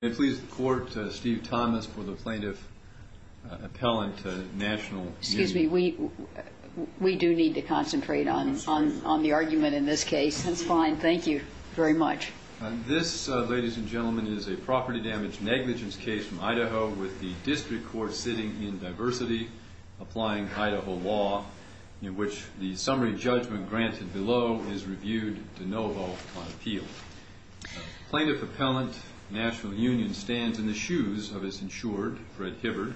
May it please the Court, Steve Thomas for the Plaintiff-Appellant National Union. Excuse me. We do need to concentrate on the argument in this case. That's fine. Thank you very much. This, ladies and gentlemen, is a property damage negligence case from Idaho with the District Court sitting in diversity, applying Idaho law, in which the summary judgment granted below is reviewed de novo on appeal. Plaintiff-Appellant National Union stands in the shoes of its insured, Fred Hibbard,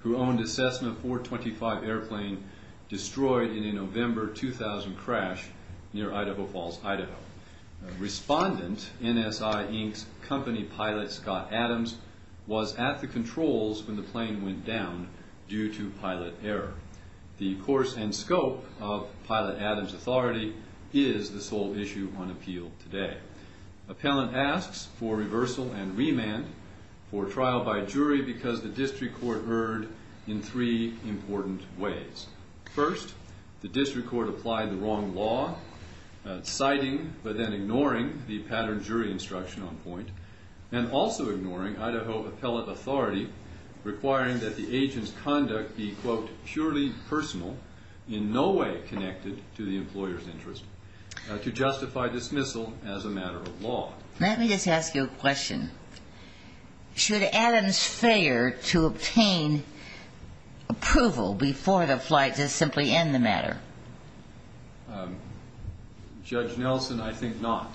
who owned a Cessna 425 airplane destroyed in a November 2000 crash near Idaho Falls, Idaho. Respondent, NSI, Inc.'s company pilot, Scott Adams, was at the controls when the plane went down due to pilot error. The course and scope of pilot Adams' authority is the sole issue on appeal today. Appellant asks for reversal and remand for trial by jury because the District Court erred in three important ways. First, the District Court applied the wrong law, citing but then ignoring the pattern jury instruction on point, and also ignoring Idaho appellate authority requiring that the agent's conduct be, quote, purely personal, in no way connected to the employer's interest, to justify dismissal as a matter of law. Let me just ask you a question. Should Adams' failure to obtain approval before the flight just simply end the matter? Judge Nelson, I think not,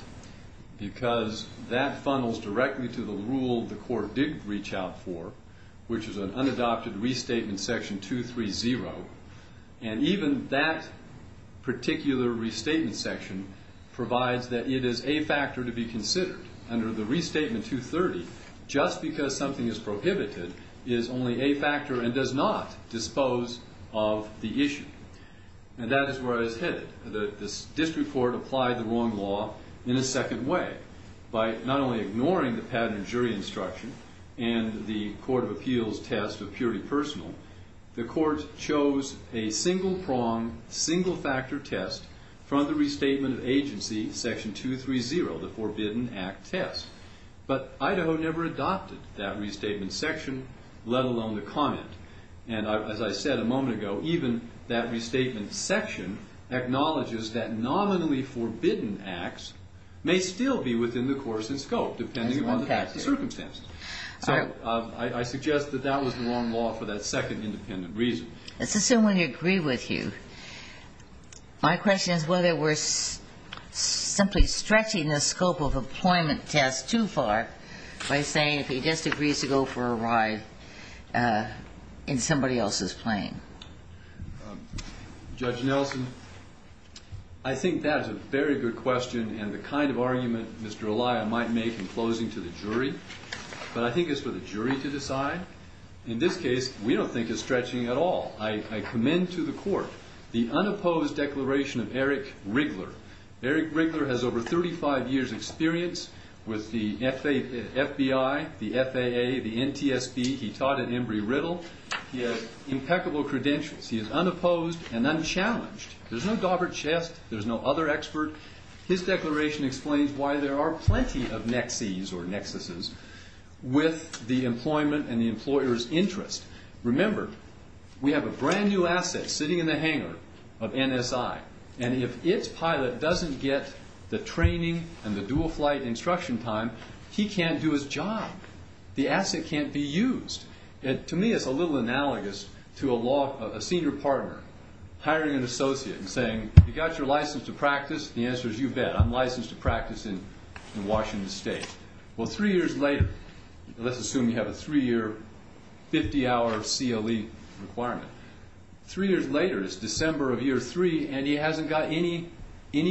because that funnels directly to the rule the court did reach out for, which is an unadopted restatement section 230, and even that particular restatement section provides that it is a factor to be considered. Under the restatement 230, just because something is prohibited is only a factor and does not dispose of the issue. And that is where I was headed. The District Court applied the wrong law in a second way by not only ignoring the pattern jury instruction and the court of appeals test of purely personal, the court chose a single-prong, single-factor test from the restatement of agency section 230, the Forbidden Act test. But Idaho never adopted that restatement section, let alone the comment. And as I said a moment ago, even that restatement section acknowledges that nominally forbidden acts may still be within the court's scope, depending on the circumstances. So I suggest that that was the wrong law for that second independent reason. Let's assume we agree with you. My question is whether we're simply stretching the scope of employment test too far by saying if he just agrees to go for a ride in somebody else's plane. Judge Nelson, I think that is a very good question and the kind of argument Mr. Elia might make in closing to the jury. But I think it's for the jury to decide. In this case, we don't think it's stretching at all. I commend to the court the unopposed declaration of Eric Riegler. Eric Riegler has over 35 years' experience with the FBI, the FAA, the NTSB. He taught at Embry-Riddle. He has impeccable credentials. He is unopposed and unchallenged. There's no gobbled chest. There's no other expert. His declaration explains why there are plenty of nexes or nexuses with the employment and the employer's interest. Remember, we have a brand-new asset sitting in the hangar of NSI. And if its pilot doesn't get the training and the dual-flight instruction time, he can't do his job. The asset can't be used. To me, it's a little analogous to a senior partner hiring an associate and saying, you got your license to practice? The answer is, you bet. I'm licensed to practice in Washington State. Well, three years later, let's assume you have a three-year, 50-hour CLE requirement. Three years later, it's December of year three and he hasn't got any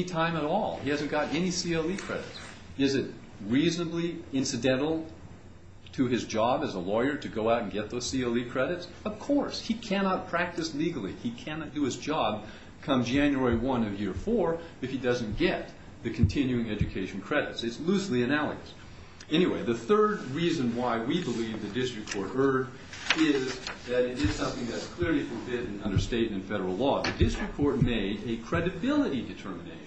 time at all. He hasn't got any CLE credits. Is it reasonably incidental to his job as a lawyer to go out and get those CLE credits? Of course. He cannot practice legally. He cannot do his job come January 1 of year four if he doesn't get the continuing education credits. It's loosely analogous. Anyway, the third reason why we believe the district court erred is that it is something that's clearly forbidden under state and federal law. The district court made a credibility determination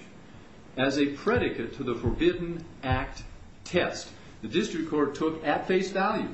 as a predicate to the Forbidden Act test. The district court took at face value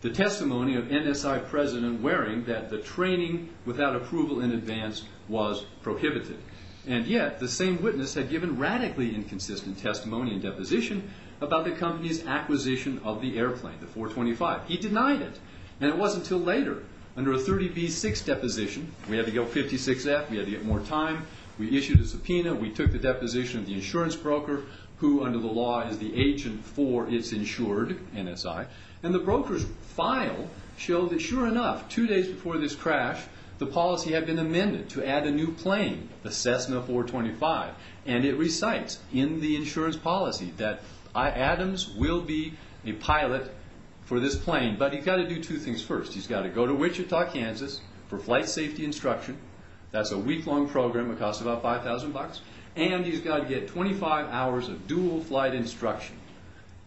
the testimony of NSI President Waring that the training without approval in advance was prohibited. And yet, the same witness had given radically inconsistent testimony and deposition about the company's acquisition of the airplane, the 425. He denied it. And it wasn't until later, under a 30B6 deposition, we had to go 56F, we had to get more time, we issued a subpoena, we took the deposition of the insurance broker who, under the law, is the agent for its insured, NSI. And the broker's file showed that, sure enough, two days before this crash, the policy had been amended to add a new plane, the Cessna 425. And it recites in the insurance policy that Adams will be a pilot for this plane. But he's got to do two things first. He's got to go to Wichita, Kansas, for flight safety instruction. That's a week-long program. It costs about $5,000. And he's got to get 25 hours of dual flight instruction.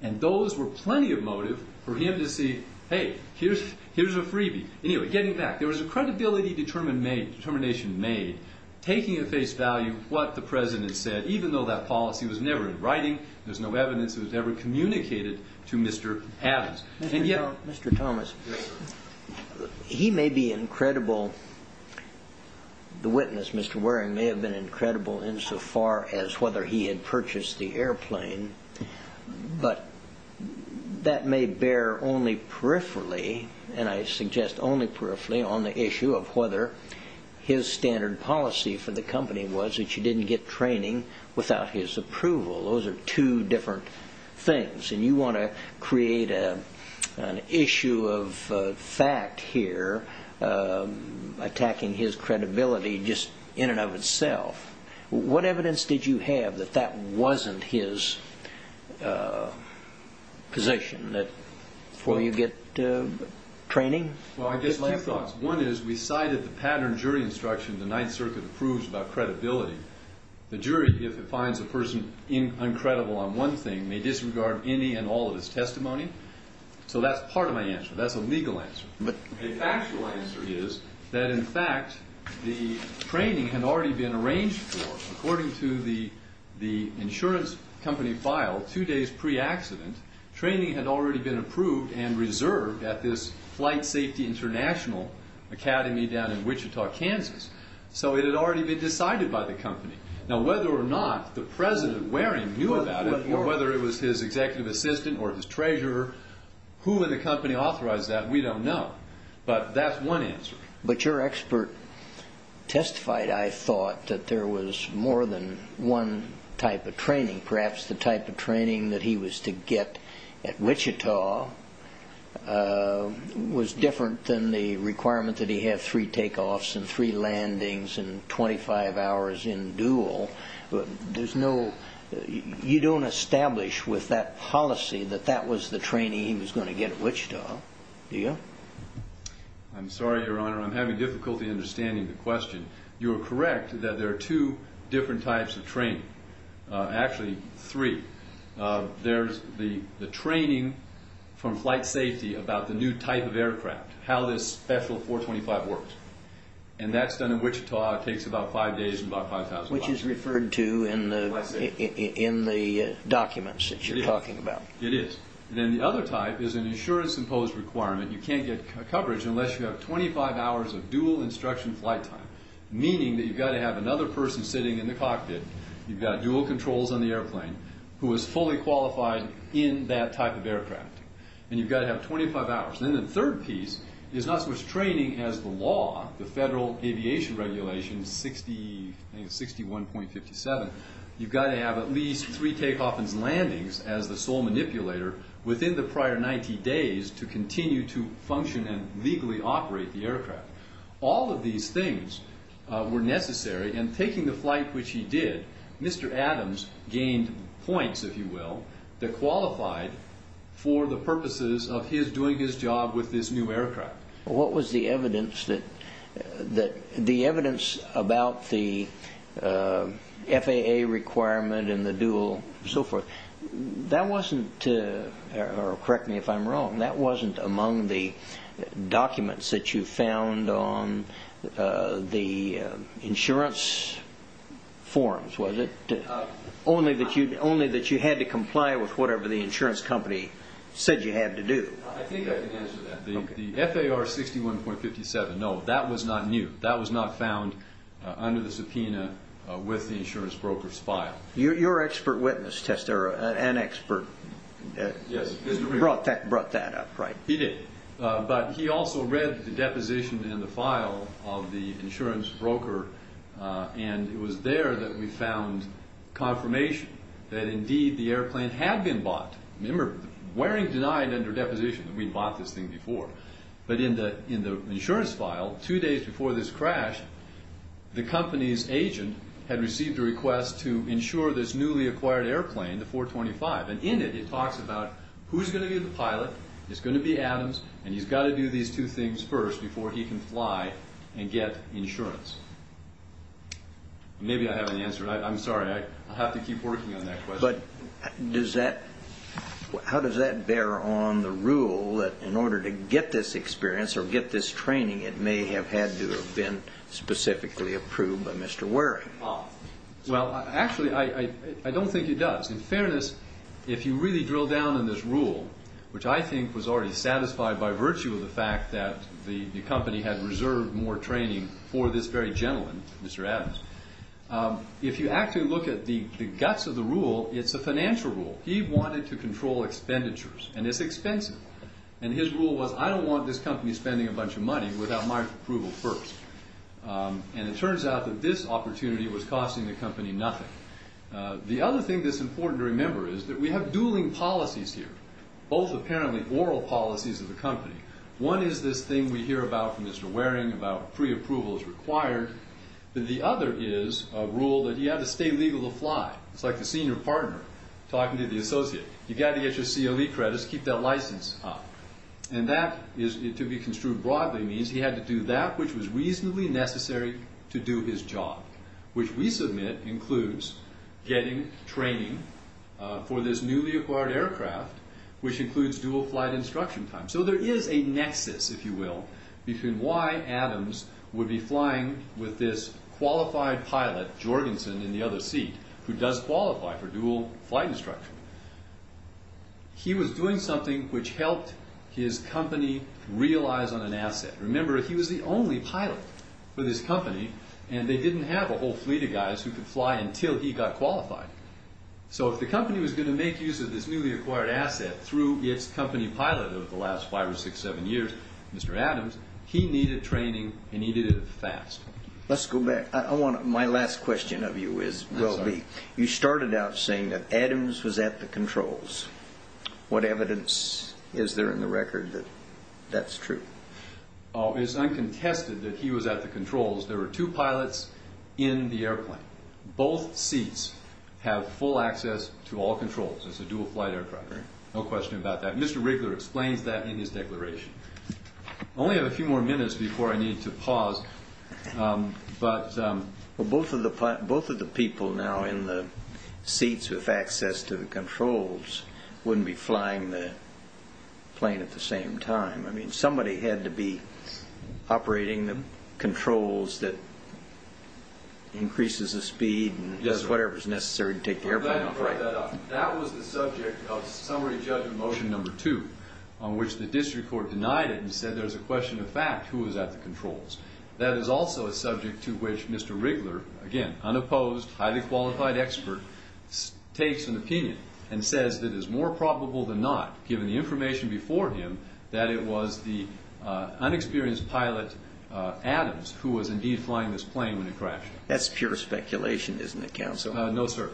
And those were plenty of motive for him to see, hey, here's a freebie. Anyway, getting back, there was a credibility determination made taking at face value what the President said, even though that policy was never in writing, there's no evidence it was ever communicated to Mr. Adams. Mr. Thomas, he may be incredible. The witness, Mr. Waring, may have been incredible insofar as whether he had purchased the airplane. But that may bear only peripherally, and I suggest only peripherally, on the issue of whether his standard policy for the company was that you didn't get training without his approval. Those are two different things. And you want to create an issue of fact here, attacking his credibility just in and of itself. What evidence did you have that that wasn't his position? Before you get training? Well, I guess my thoughts. One is we cited the pattern jury instruction the Ninth Circuit approves about credibility. The jury, if it finds a person uncredible on one thing, may disregard any and all of his testimony. So that's part of my answer. That's a legal answer. The actual answer is that, in fact, the training had already been arranged for. According to the insurance company file, two days pre-accident, training had already been approved and reserved at this Flight Safety International Academy down in Wichita, Kansas. So it had already been decided by the company. Now, whether or not the President, Waring, knew about it or whether it was his executive assistant or his treasurer, who in the company authorized that, we don't know. But that's one answer. But your expert testified, I thought, that there was more than one type of training. Perhaps the type of training that he was to get at Wichita was different than the requirement that he have three takeoffs and three landings and 25 hours in dual. You don't establish with that policy that that was the training he was going to get at Wichita. Do you? I'm sorry, Your Honor. I'm having difficulty understanding the question. You are correct that there are two different types of training. Actually, three. There's the training from Flight Safety about the new type of aircraft, how this special 425 works. And that's done in Wichita. It takes about five days and about $5,000. Which is referred to in the documents that you're talking about. It is. And then the other type is an insurance-imposed requirement. You can't get coverage unless you have 25 hours of dual instruction flight time, meaning that you've got to have another person sitting in the cockpit, you've got dual controls on the airplane, who is fully qualified in that type of aircraft. And you've got to have 25 hours. And then the third piece is not so much training as the law, the Federal Aviation Regulation 61.57. You've got to have at least three takeoff and landings as the sole manipulator within the prior 90 days to continue to function and legally operate the aircraft. All of these things were necessary. And taking the flight which he did, Mr. Adams gained points, if you will, that qualified for the purposes of his doing his job with this new aircraft. What was the evidence about the FAA requirement and the dual and so forth? That wasn't, or correct me if I'm wrong, that wasn't among the documents that you found on the insurance forms, was it? Only that you had to comply with whatever the insurance company said you had to do. I think I can answer that. The FAR 61.57, no, that was not new. That was not found under the subpoena with the insurance broker's file. You're an expert witness, Testera, an expert. Yes. Brought that up, right. He did. But he also read the deposition in the file of the insurance broker, and it was there that we found confirmation that indeed the airplane had been bought. Remember, Waring denied under deposition that we'd bought this thing before. But in the insurance file, two days before this crash, the company's agent had received a request to insure this newly acquired airplane, the 425. And in it, it talks about who's going to be the pilot, it's going to be Adams, and he's got to do these two things first before he can fly and get insurance. Maybe I haven't answered. I'm sorry, I'll have to keep working on that question. But how does that bear on the rule that in order to get this experience or get this training, it may have had to have been specifically approved by Mr. Waring? Well, actually, I don't think it does. In fairness, if you really drill down on this rule, which I think was already satisfied by virtue of the fact that the company had reserved more training for this very gentleman, Mr. Adams, if you actually look at the guts of the rule, it's a financial rule. He wanted to control expenditures, and it's expensive. And his rule was, I don't want this company spending a bunch of money without my approval first. And it turns out that this opportunity was costing the company nothing. The other thing that's important to remember is that we have dueling policies here, both apparently oral policies of the company. One is this thing we hear about from Mr. Waring about pre-approval is required, but the other is a rule that he had to stay legal to fly. It's like the senior partner talking to the associate. You've got to get your COE credits, keep that license up. And that, to be construed broadly, means he had to do that which was reasonably necessary to do his job, which we submit includes getting training for this newly acquired aircraft, which includes dual flight instruction time. So there is a nexus, if you will, between why Adams would be flying with this qualified pilot, Jorgensen, in the other seat, who does qualify for dual flight instruction. He was doing something which helped his company realize on an asset. Remember, he was the only pilot for this company, and they didn't have a whole fleet of guys who could fly until he got qualified. So if the company was going to make use of this newly acquired asset through its company pilot over the last five or six, seven years, Mr. Adams, he needed training and he needed it fast. Let's go back. My last question of you is, you started out saying that Adams was at the controls. What evidence is there in the record that that's true? It's uncontested that he was at the controls. There were two pilots in the airplane. Both seats have full access to all controls. It's a dual flight aircraft. No question about that. Mr. Riggler explains that in his declaration. I only have a few more minutes before I need to pause. Well, both of the people now in the seats with access to the controls wouldn't be flying the plane at the same time. I mean, somebody had to be operating the controls that increases the speed and does whatever is necessary to take the airplane off. That was the subject of summary judgment motion number two, on which the district court denied it and said there's a question of fact, who was at the controls. That is also a subject to which Mr. Riggler, again, unopposed, highly qualified expert, takes an opinion and says that it is more probable than not, given the information before him, that it was the unexperienced pilot Adams who was indeed flying this plane when it crashed. That's pure speculation, isn't it, counsel? No, sir.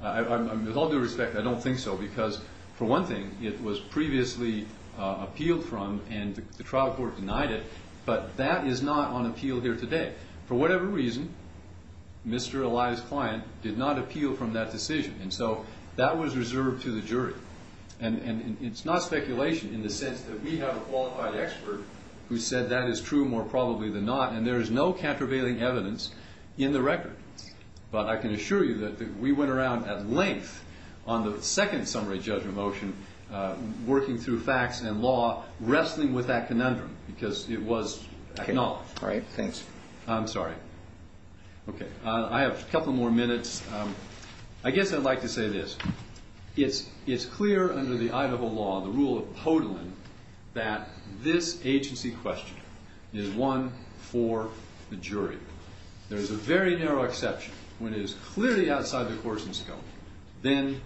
With all due respect, I don't think so because, for one thing, it was previously appealed from and the trial court denied it, but that is not on appeal here today. For whatever reason, Mr. Eli's client did not appeal from that decision. And so that was reserved to the jury. And it's not speculation in the sense that we have a qualified expert who said that is true more probably than not, and there is no countervailing evidence in the record. But I can assure you that we went around at length on the second summary judgment motion, working through facts and law, wrestling with that conundrum because it was acknowledged. All right. Thanks. I'm sorry. I have a couple more minutes. I guess I'd like to say this. It's clear under the Idaho law, the rule of Podolin, that this agency question is one for the jury. There is a very narrow exception. When it is clearly outside the court's scope, then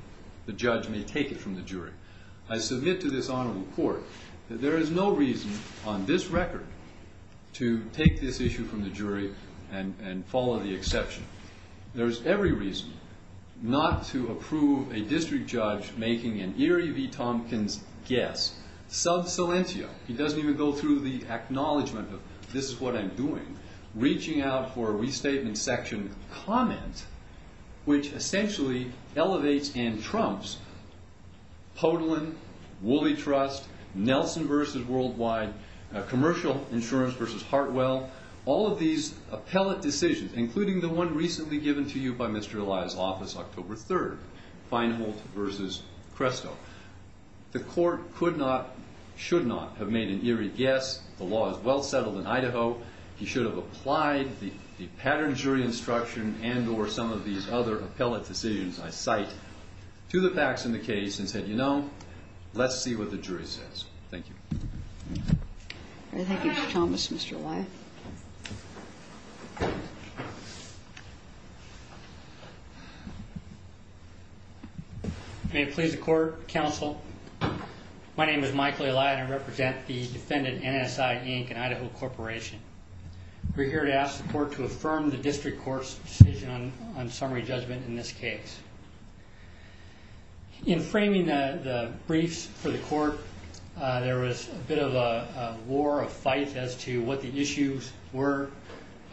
the judge may take it from the jury. I submit to this honorable court that there is no reason on this record to take this issue from the jury and follow the exception. There is every reason not to approve a district judge making an Erie V. Tompkins guess, sub silentio, he doesn't even go through the acknowledgement of this is what I'm doing, reaching out for a restatement section comment, which essentially elevates and trumps Podolin, Woolly Trust, Nelson v. Worldwide, Commercial Insurance v. Hartwell, all of these appellate decisions, including the one recently given to you by Mr. Elia's office, October 3rd, Feinholt v. Cresto. The court could not, should not, have made an Erie guess. The law is well settled in Idaho. He should have applied the pattern jury instruction and or some of these other appellate decisions I cite to the facts in the case and said, you know, let's see what the jury says. Thank you. Thank you, Mr. Thomas, Mr. Elia. May it please the court, counsel. My name is Michael Elia and I represent the defendant, NSI Inc. and Idaho Corporation. We're here to ask the court to affirm the district court's decision on summary judgment in this case. In framing the briefs for the court, there was a bit of a war, a fight as to what the issues were.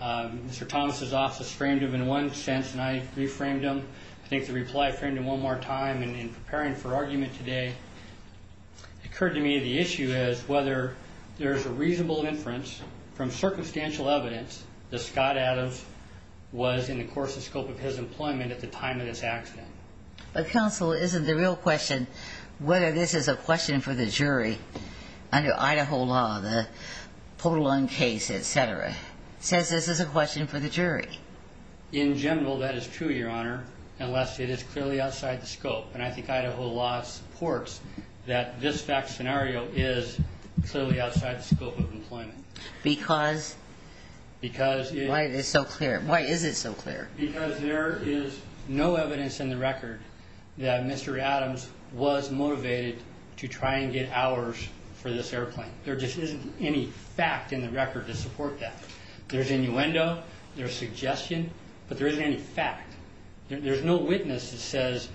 Mr. Thomas' office framed them in one sense and I reframed them. I think the reply framed them one more time and in preparing for argument today, it occurred to me the issue is whether there's a reasonable inference from circumstantial evidence that Scott Adams was in the course and scope of his employment at the time of this accident. But, counsel, isn't the real question whether this is a question for the jury under Idaho law, the Podolon case, et cetera? It says this is a question for the jury. In general, that is true, Your Honor, unless it is clearly outside the scope and I think Idaho law supports that this fact scenario is clearly outside the scope of employment. Why is it so clear? Because there is no evidence in the record that Mr. Adams was motivated to try and get hours for this airplane. There just isn't any fact in the record to support that. There's innuendo, there's suggestion, but there isn't any fact. There's no witness that says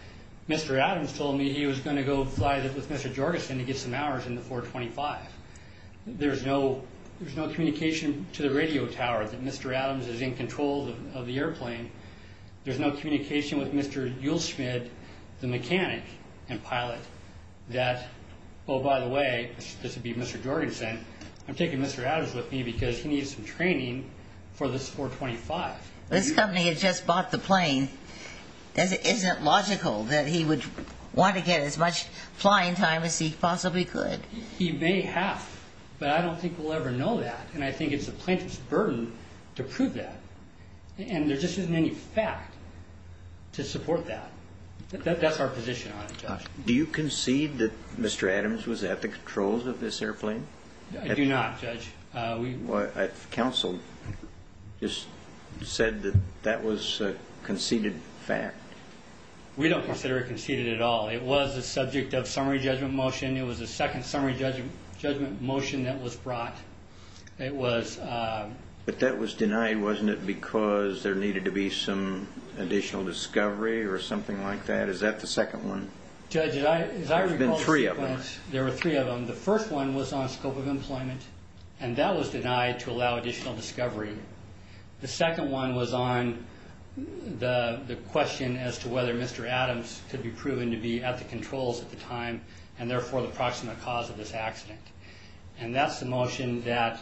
Mr. Adams told me he was going to go fly with Mr. Jorgensen to get some hours in the 425. There's no communication to the radio tower that Mr. Adams is in control of the airplane. There's no communication with Mr. Uelschmid, the mechanic and pilot, that, oh, by the way, this would be Mr. Jorgensen, I'm taking Mr. Adams with me because he needs some training for this 425. This company had just bought the plane. Isn't it logical that he would want to get as much flying time as he possibly could? He may have, but I don't think we'll ever know that, and I think it's the plaintiff's burden to prove that. And there just isn't any fact to support that. That's our position on it, Judge. Do you concede that Mr. Adams was at the controls of this airplane? I do not, Judge. Counsel just said that that was a conceded fact. We don't consider it conceded at all. It was the subject of summary judgment motion. It was the second summary judgment motion that was brought. But that was denied, wasn't it, because there needed to be some additional discovery or something like that? Is that the second one? There's been three of them. There were three of them. The first one was on scope of employment, and that was denied to allow additional discovery. The second one was on the question as to whether Mr. Adams could be proven to be at the controls at the time and therefore the proximate cause of this accident. And that's the motion that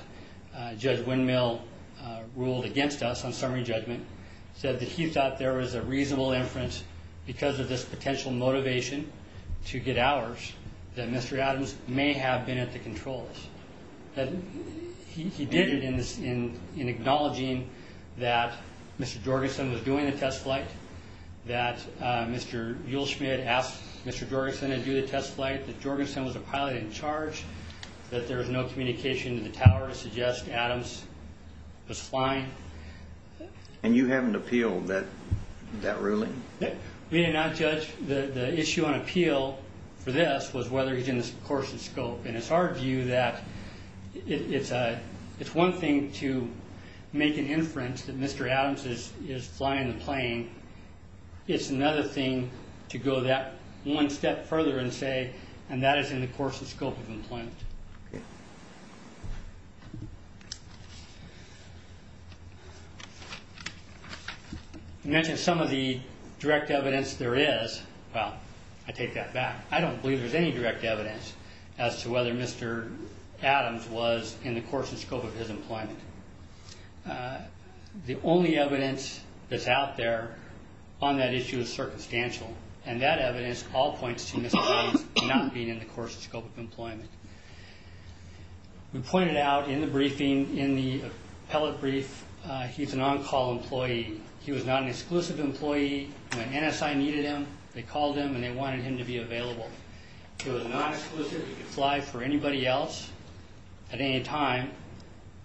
Judge Windmill ruled against us on summary judgment, said that he thought there was a reasonable inference because of this potential motivation to get hours that Mr. Adams may have been at the controls. He did it in acknowledging that Mr. Jorgensen was doing the test flight, that Mr. Uelschmid asked Mr. Jorgensen to do the test flight, that Jorgensen was the pilot in charge, that there was no communication to the tower to suggest Adams was flying. And you haven't appealed that ruling? We did not, Judge. The issue on appeal for this was whether he was in the course of scope. And it's our view that it's one thing to make an inference that Mr. Adams is flying the plane. It's another thing to go that one step further and say, and that is in the course of scope of employment. You mentioned some of the direct evidence there is. Well, I take that back. I don't believe there's any direct evidence as to whether Mr. Adams was in the course of scope of his employment. The only evidence that's out there on that issue is circumstantial, and that evidence all points to Mr. Adams not being in the course of scope of employment. We pointed out in the briefing, in the appellate brief, he's an on-call employee. He was not an exclusive employee. When NSI needed him, they called him, and they wanted him to be available. He was not exclusive. He could fly for anybody else at any time,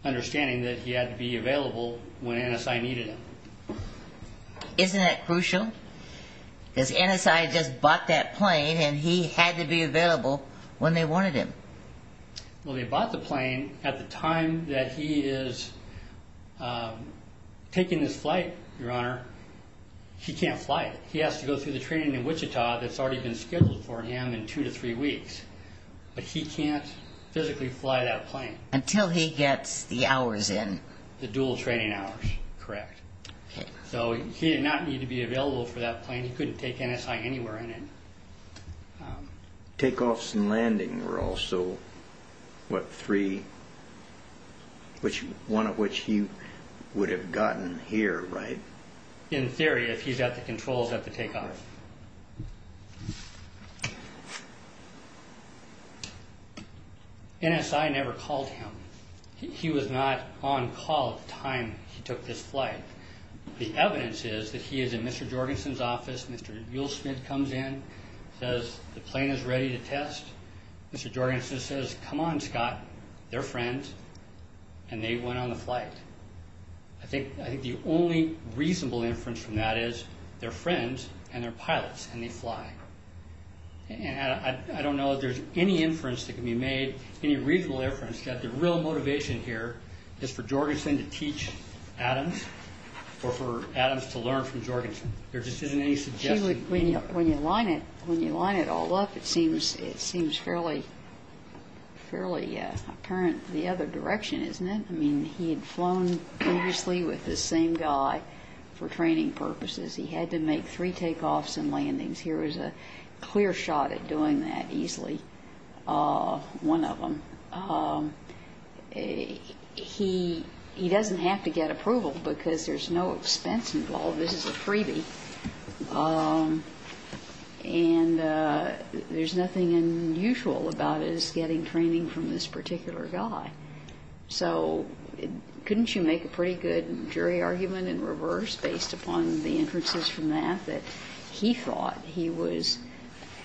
understanding that he had to be available when NSI needed him. Isn't that crucial? Because NSI just bought that plane, and he had to be available when they wanted him. Well, they bought the plane at the time that he is taking this flight, Your Honor. He can't fly it. He has to go through the training in Wichita that's already been scheduled for him in two to three weeks, but he can't physically fly that plane. Until he gets the hours in. The dual training hours, correct. So he did not need to be available for that plane. He couldn't take NSI anywhere in it. Takeoffs and landing were also, what, three, one of which he would have gotten here, right? In theory, if he's at the controls at the takeoff. NSI never called him. He was not on call at the time he took this flight. The evidence is that he is in Mr. Jorgensen's office. Mr. Will Smith comes in, says the plane is ready to test. Mr. Jorgensen says, come on, Scott, they're friends, and they went on the flight. I think the only reasonable inference from that is they're friends and they're pilots and they fly. And I don't know if there's any inference that can be made, any reasonable inference, that the real motivation here is for Jorgensen to teach Adams or for Adams to learn from Jorgensen. There just isn't any suggestion. When you line it all up, it seems fairly apparent the other direction, isn't it? I mean, he had flown previously with this same guy for training purposes. He had to make three takeoffs and landings. Here was a clear shot at doing that easily, one of them. He doesn't have to get approval because there's no expense involved. This is a freebie. And there's nothing unusual about his getting training from this particular guy. So couldn't you make a pretty good jury argument in reverse based upon the inferences from that, that he thought he was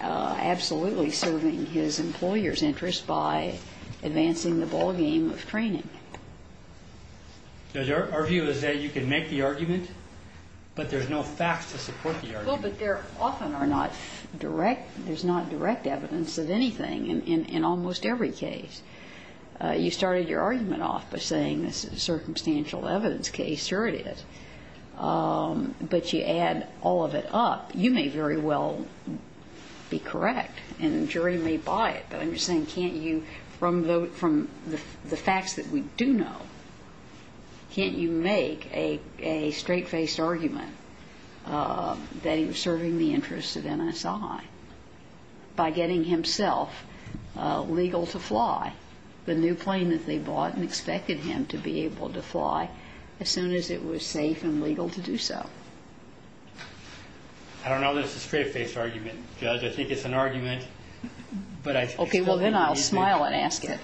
absolutely serving his employer's interest by advancing the ballgame of training? Our view is that you can make the argument, but there's no facts to support the argument. Well, but there often are not direct, there's not direct evidence of anything in almost every case. You started your argument off by saying this is a circumstantial evidence case. Sure it is. But you add all of it up. You may very well be correct, and the jury may buy it. But I'm just saying can't you, from the facts that we do know, can't you make a straight-faced argument that he was serving the interest of NSI by getting himself legal to fly the new plane that they bought and expected him to be able to fly as soon as it was safe and legal to do so? I don't know that it's a straight-faced argument, Judge. I think it's an argument. Okay. Well, then I'll smile and ask it.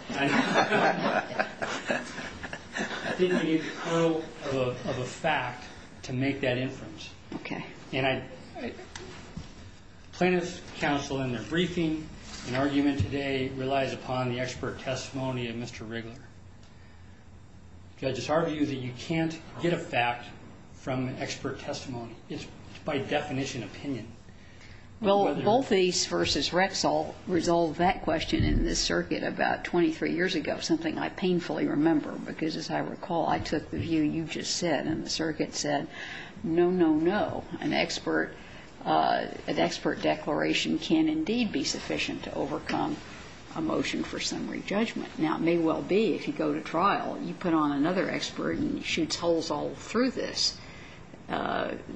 I think you need to know of a fact to make that inference. Okay. And plaintiff's counsel in their briefing, an argument today relies upon the expert testimony of Mr. Riggler. Judge, it's our view that you can't get a fact from expert testimony. It's by definition opinion. Well, both these versus Rexall resolve that question in this circuit about 23 years ago, something I painfully remember, because as I recall, I took the view you just said, and the circuit said, no, no, no, an expert declaration can indeed be sufficient to overcome a motion for summary judgment. Now, it may well be if you go to trial and you put on another expert and he shoots holes all through this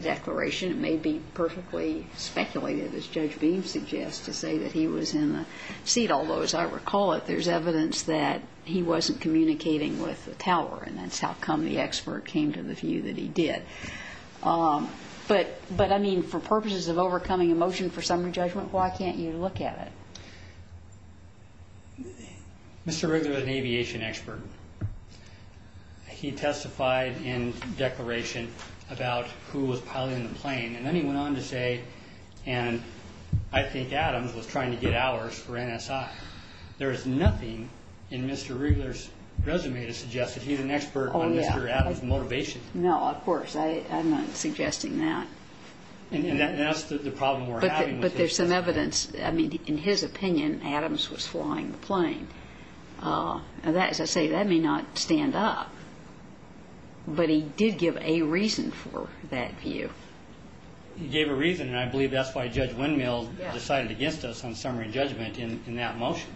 declaration, it may be perfectly speculated, as Judge Beam suggests, to say that he was in the seat. Although, as I recall it, there's evidence that he wasn't communicating with the tower, and that's how come the expert came to the view that he did. But, I mean, for purposes of overcoming a motion for summary judgment, why can't you look at it? Mr. Riggler is an aviation expert. He testified in declaration about who was piloting the plane, and then he went on to say, and I think Adams was trying to get hours for NSI. There is nothing in Mr. Riggler's resume to suggest that he's an expert on Mr. Adams' motivation. No, of course. I'm not suggesting that. And that's the problem we're having. But there's some evidence. I mean, in his opinion, Adams was flying the plane. As I say, that may not stand up. But he did give a reason for that view. He gave a reason, and I believe that's why Judge Windmill decided against us on summary judgment in that motion.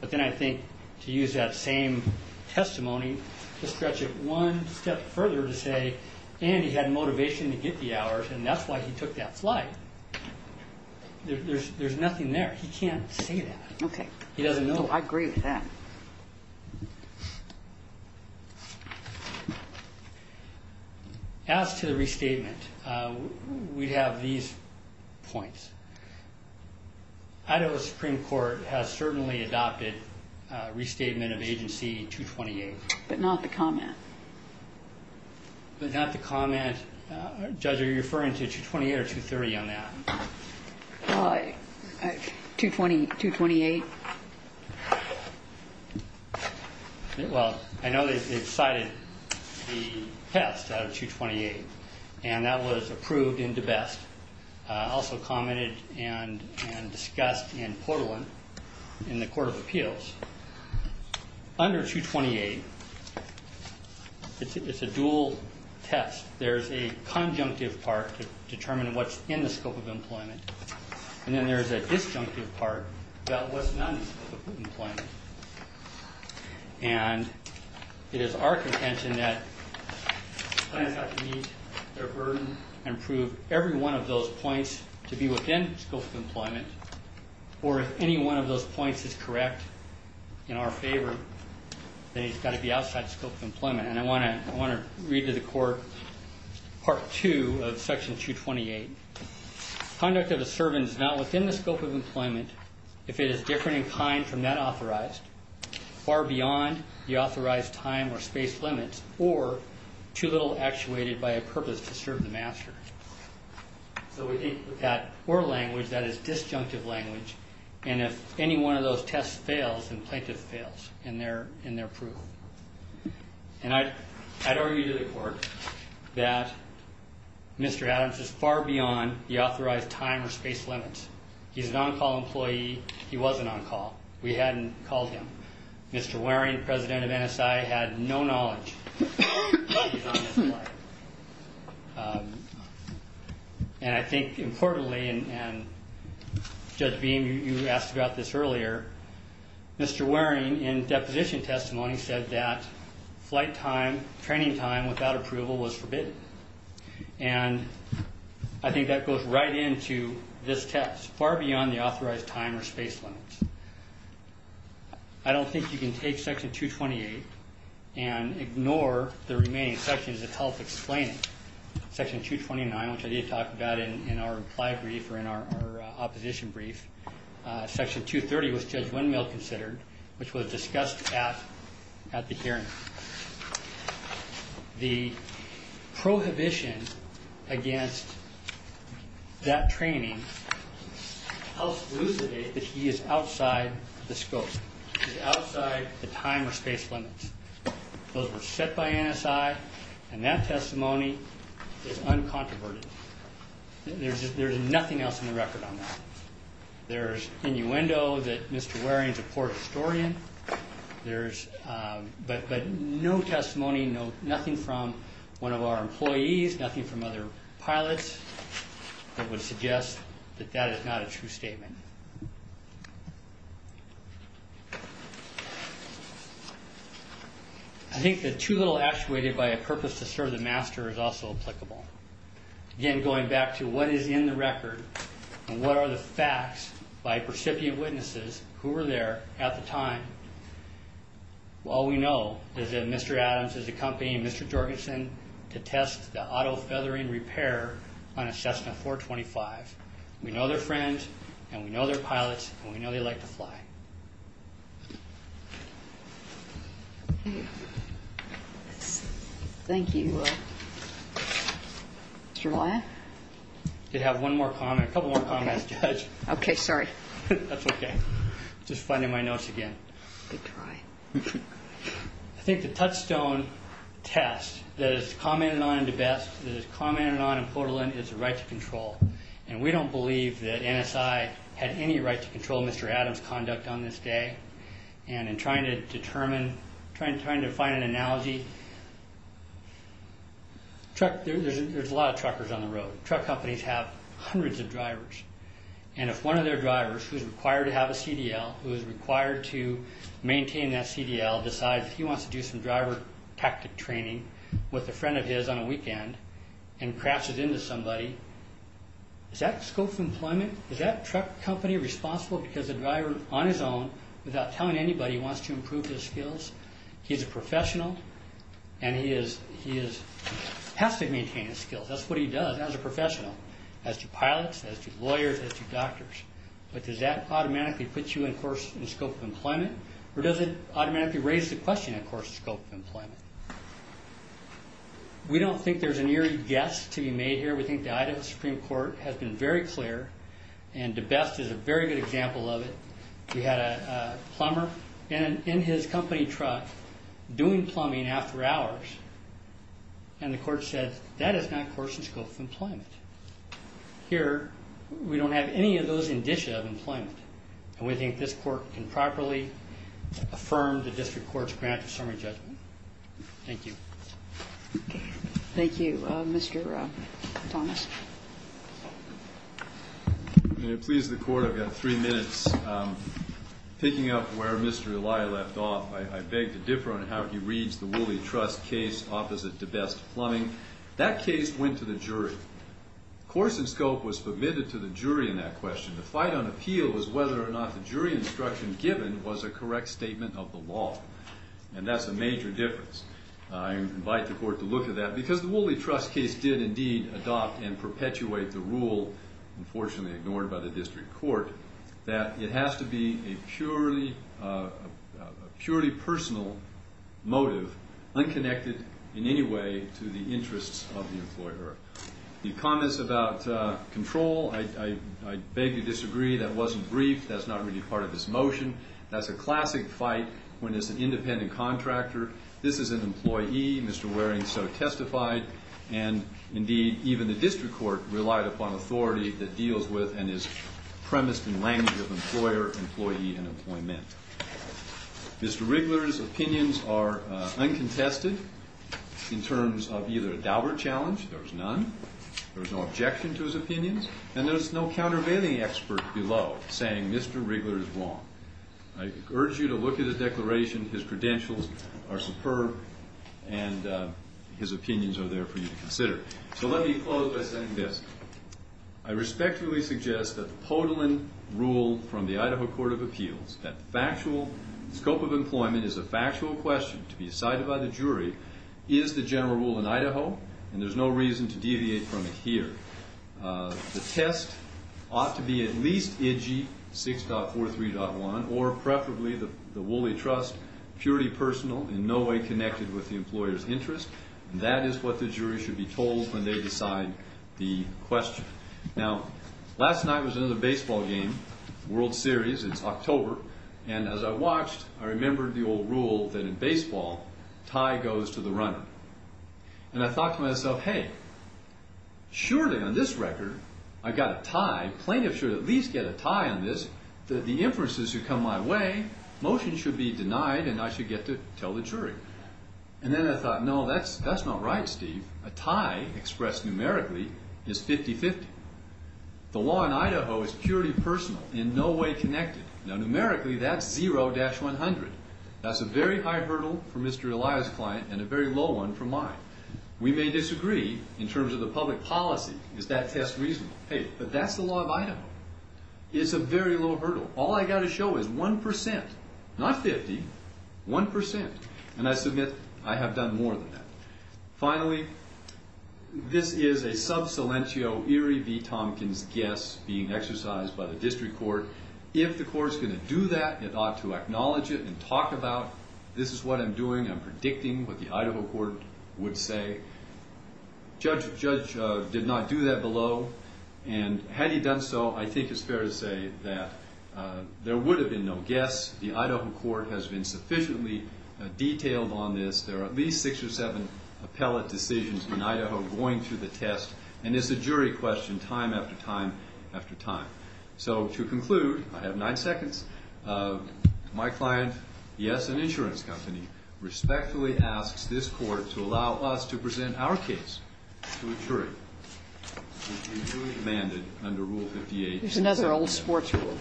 But then I think to use that same testimony to stretch it one step further to say, and he had motivation to get the hours, and that's why he took that flight. There's nothing there. He can't say that. Okay. He doesn't know. I agree with that. As to the restatement, we have these points. Idaho Supreme Court has certainly adopted restatement of Agency 228. But not the comment. But not the comment. Judge, are you referring to 228 or 230 on that? 228. Well, I know they've cited the test out of 228. And that was approved into best. Also commented and discussed in Portland in the Court of Appeals. Under 228, it's a dual test. There's a conjunctive part to determine what's in the scope of employment, and then there's a disjunctive part about what's not in the scope of employment. And it is our contention that clients have to meet their burden and prove every one of those points to be within the scope of employment, or if any one of those points is correct in our favor, And I want to read to the court Part 2 of Section 228. Conduct of a servant is not within the scope of employment if it is different in kind from that authorized, far beyond the authorized time or space limits, or too little actuated by a purpose to serve the master. So we think that word language, that is disjunctive language, and if any one of those tests fails, then plaintiff fails in their approval. And I'd argue to the court that Mr. Adams is far beyond the authorized time or space limits. He's an on-call employee. He wasn't on call. We hadn't called him. Mr. Waring, president of NSI, had no knowledge that he was on this flight. And I think importantly, and Judge Beam, you asked about this earlier, Mr. Waring, in deposition testimony, said that flight time, training time without approval was forbidden. And I think that goes right into this test, far beyond the authorized time or space limits. I don't think you can take Section 228 and ignore the remaining sections of health explaining. Section 229, which I did talk about in our reply brief or in our opposition brief, Section 230 was Judge Windmill considered, which was discussed at the hearing. The prohibition against that training helps elucidate that he is outside the scope. He's outside the time or space limits. Those were set by NSI, and that testimony is uncontroverted. There's nothing else in the record on that. There's innuendo that Mr. Waring's a poor historian. But no testimony, nothing from one of our employees, nothing from other pilots, that would suggest that that is not a true statement. I think that too little actuated by a purpose to serve the master is also applicable. Again, going back to what is in the record, and what are the facts by recipient witnesses who were there at the time. All we know is that Mr. Adams is accompanying Mr. Jorgensen to test the auto-feathering repair on a Cessna 425. We know they're friends, and we know they're pilots, and we know they like to fly. Thank you. Mr. Ryan? I did have one more comment, a couple more comments, Judge. Okay, sorry. That's okay. Just finding my notes again. Good try. I think the touchstone test that is commented on in DeBest, that is commented on in Portolan, is the right to control. And we don't believe that NSI had any right to control Mr. Adams' conduct on this day. And in trying to determine, trying to find an analogy, there's a lot of truckers on the road. Truck companies have hundreds of drivers. And if one of their drivers, who is required to have a CDL, who is required to maintain that CDL, decides he wants to do some driver tactic training with a friend of his on a weekend, and crashes into somebody, is that scope of employment, is that truck company responsible because the driver, on his own, without telling anybody, wants to improve his skills? He's a professional, and he has to maintain his skills. That's what he does as a professional, as to pilots, as to lawyers, as to doctors. But does that automatically put you in scope of employment? Or does it automatically raise the question, of course, scope of employment? We don't think there's an eerie guess to be made here. We think the Idaho Supreme Court has been very clear, and DeBest is a very good example of it. We had a plumber in his company truck doing plumbing after hours, and the court said, that is not court's scope of employment. Here, we don't have any of those indicia of employment. And we think this court can properly affirm the district court's grant of summary judgment. Thank you. Thank you. Mr. Thomas. May it please the court, I've got three minutes. Picking up where Mr. Eli left off, I beg to differ on how he reads the Wooley Trust case opposite DeBest plumbing. That case went to the jury. Course and scope was permitted to the jury in that question. The fight on appeal was whether or not the jury instruction given was a correct statement of the law. And that's a major difference. I invite the court to look at that, because the Wooley Trust case did indeed adopt and perpetuate the rule, unfortunately ignored by the district court, that it has to be a purely personal motive, unconnected in any way to the interests of the employer. The comments about control, I beg to disagree. That wasn't brief. That's not really part of this motion. That's a classic fight when it's an independent contractor. This is an employee, Mr. Waring so testified, and indeed even the district court relied upon authority that deals with and is premised in language of employer, employee, and employment. Mr. Wrigler's opinions are uncontested in terms of either a double challenge, there's none, there's no objection to his opinions, and there's no countervailing expert below saying Mr. Wrigler is wrong. I urge you to look at his declaration. His credentials are superb, and his opinions are there for you to consider. So let me close by saying this. I respectfully suggest that the Podolin rule from the Idaho Court of Appeals, that the scope of employment is a factual question to be decided by the jury, is the general rule in Idaho, and there's no reason to deviate from it here. The test ought to be at least edgy, 6.43.1, or preferably the Woolly Trust, purely personal, in no way connected with the employer's interest, and that is what the jury should be told when they decide the question. Now, last night was another baseball game, World Series, it's October, and as I watched, I remembered the old rule that in baseball, tie goes to the runner. And I thought to myself, hey, surely on this record, I got a tie, plaintiff should at least get a tie on this, the inferences should come my way, motion should be denied, and I should get to tell the jury. And then I thought, no, that's not right, Steve. A tie, expressed numerically, is 50-50. The law in Idaho is purely personal, in no way connected. Now, numerically, that's 0-100. That's a very high hurdle for Mr. Elias' client, and a very low one for mine. We may disagree in terms of the public policy, is that test reasonable? Hey, but that's the law of Idaho. It's a very low hurdle. All I've got to show is 1%, not 50, 1%. And I submit, I have done more than that. Finally, this is a sub salientio Erie V. Tompkins guess being exercised by the district court. If the court's going to do that, it ought to acknowledge it and talk about, this is what I'm doing, I'm predicting what the Idaho court would say. Judge did not do that below, and had he done so, I think it's fair to say that there would have been no guess. The Idaho court has been sufficiently detailed on this. There are at least six or seven appellate decisions in Idaho going through the test, and it's a jury question, time after time after time. So, to conclude, I have nine seconds. My client, yes, an insurance company, respectfully asks this court to allow us to present our case to a jury, which we truly demanded under Rule 58. There's another old sports rule.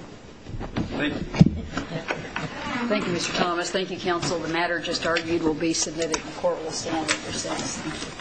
Thank you. Thank you, Mr. Thomas. Thank you, counsel. The matter just argued will be submitted and the court will stand in recess. Thank you.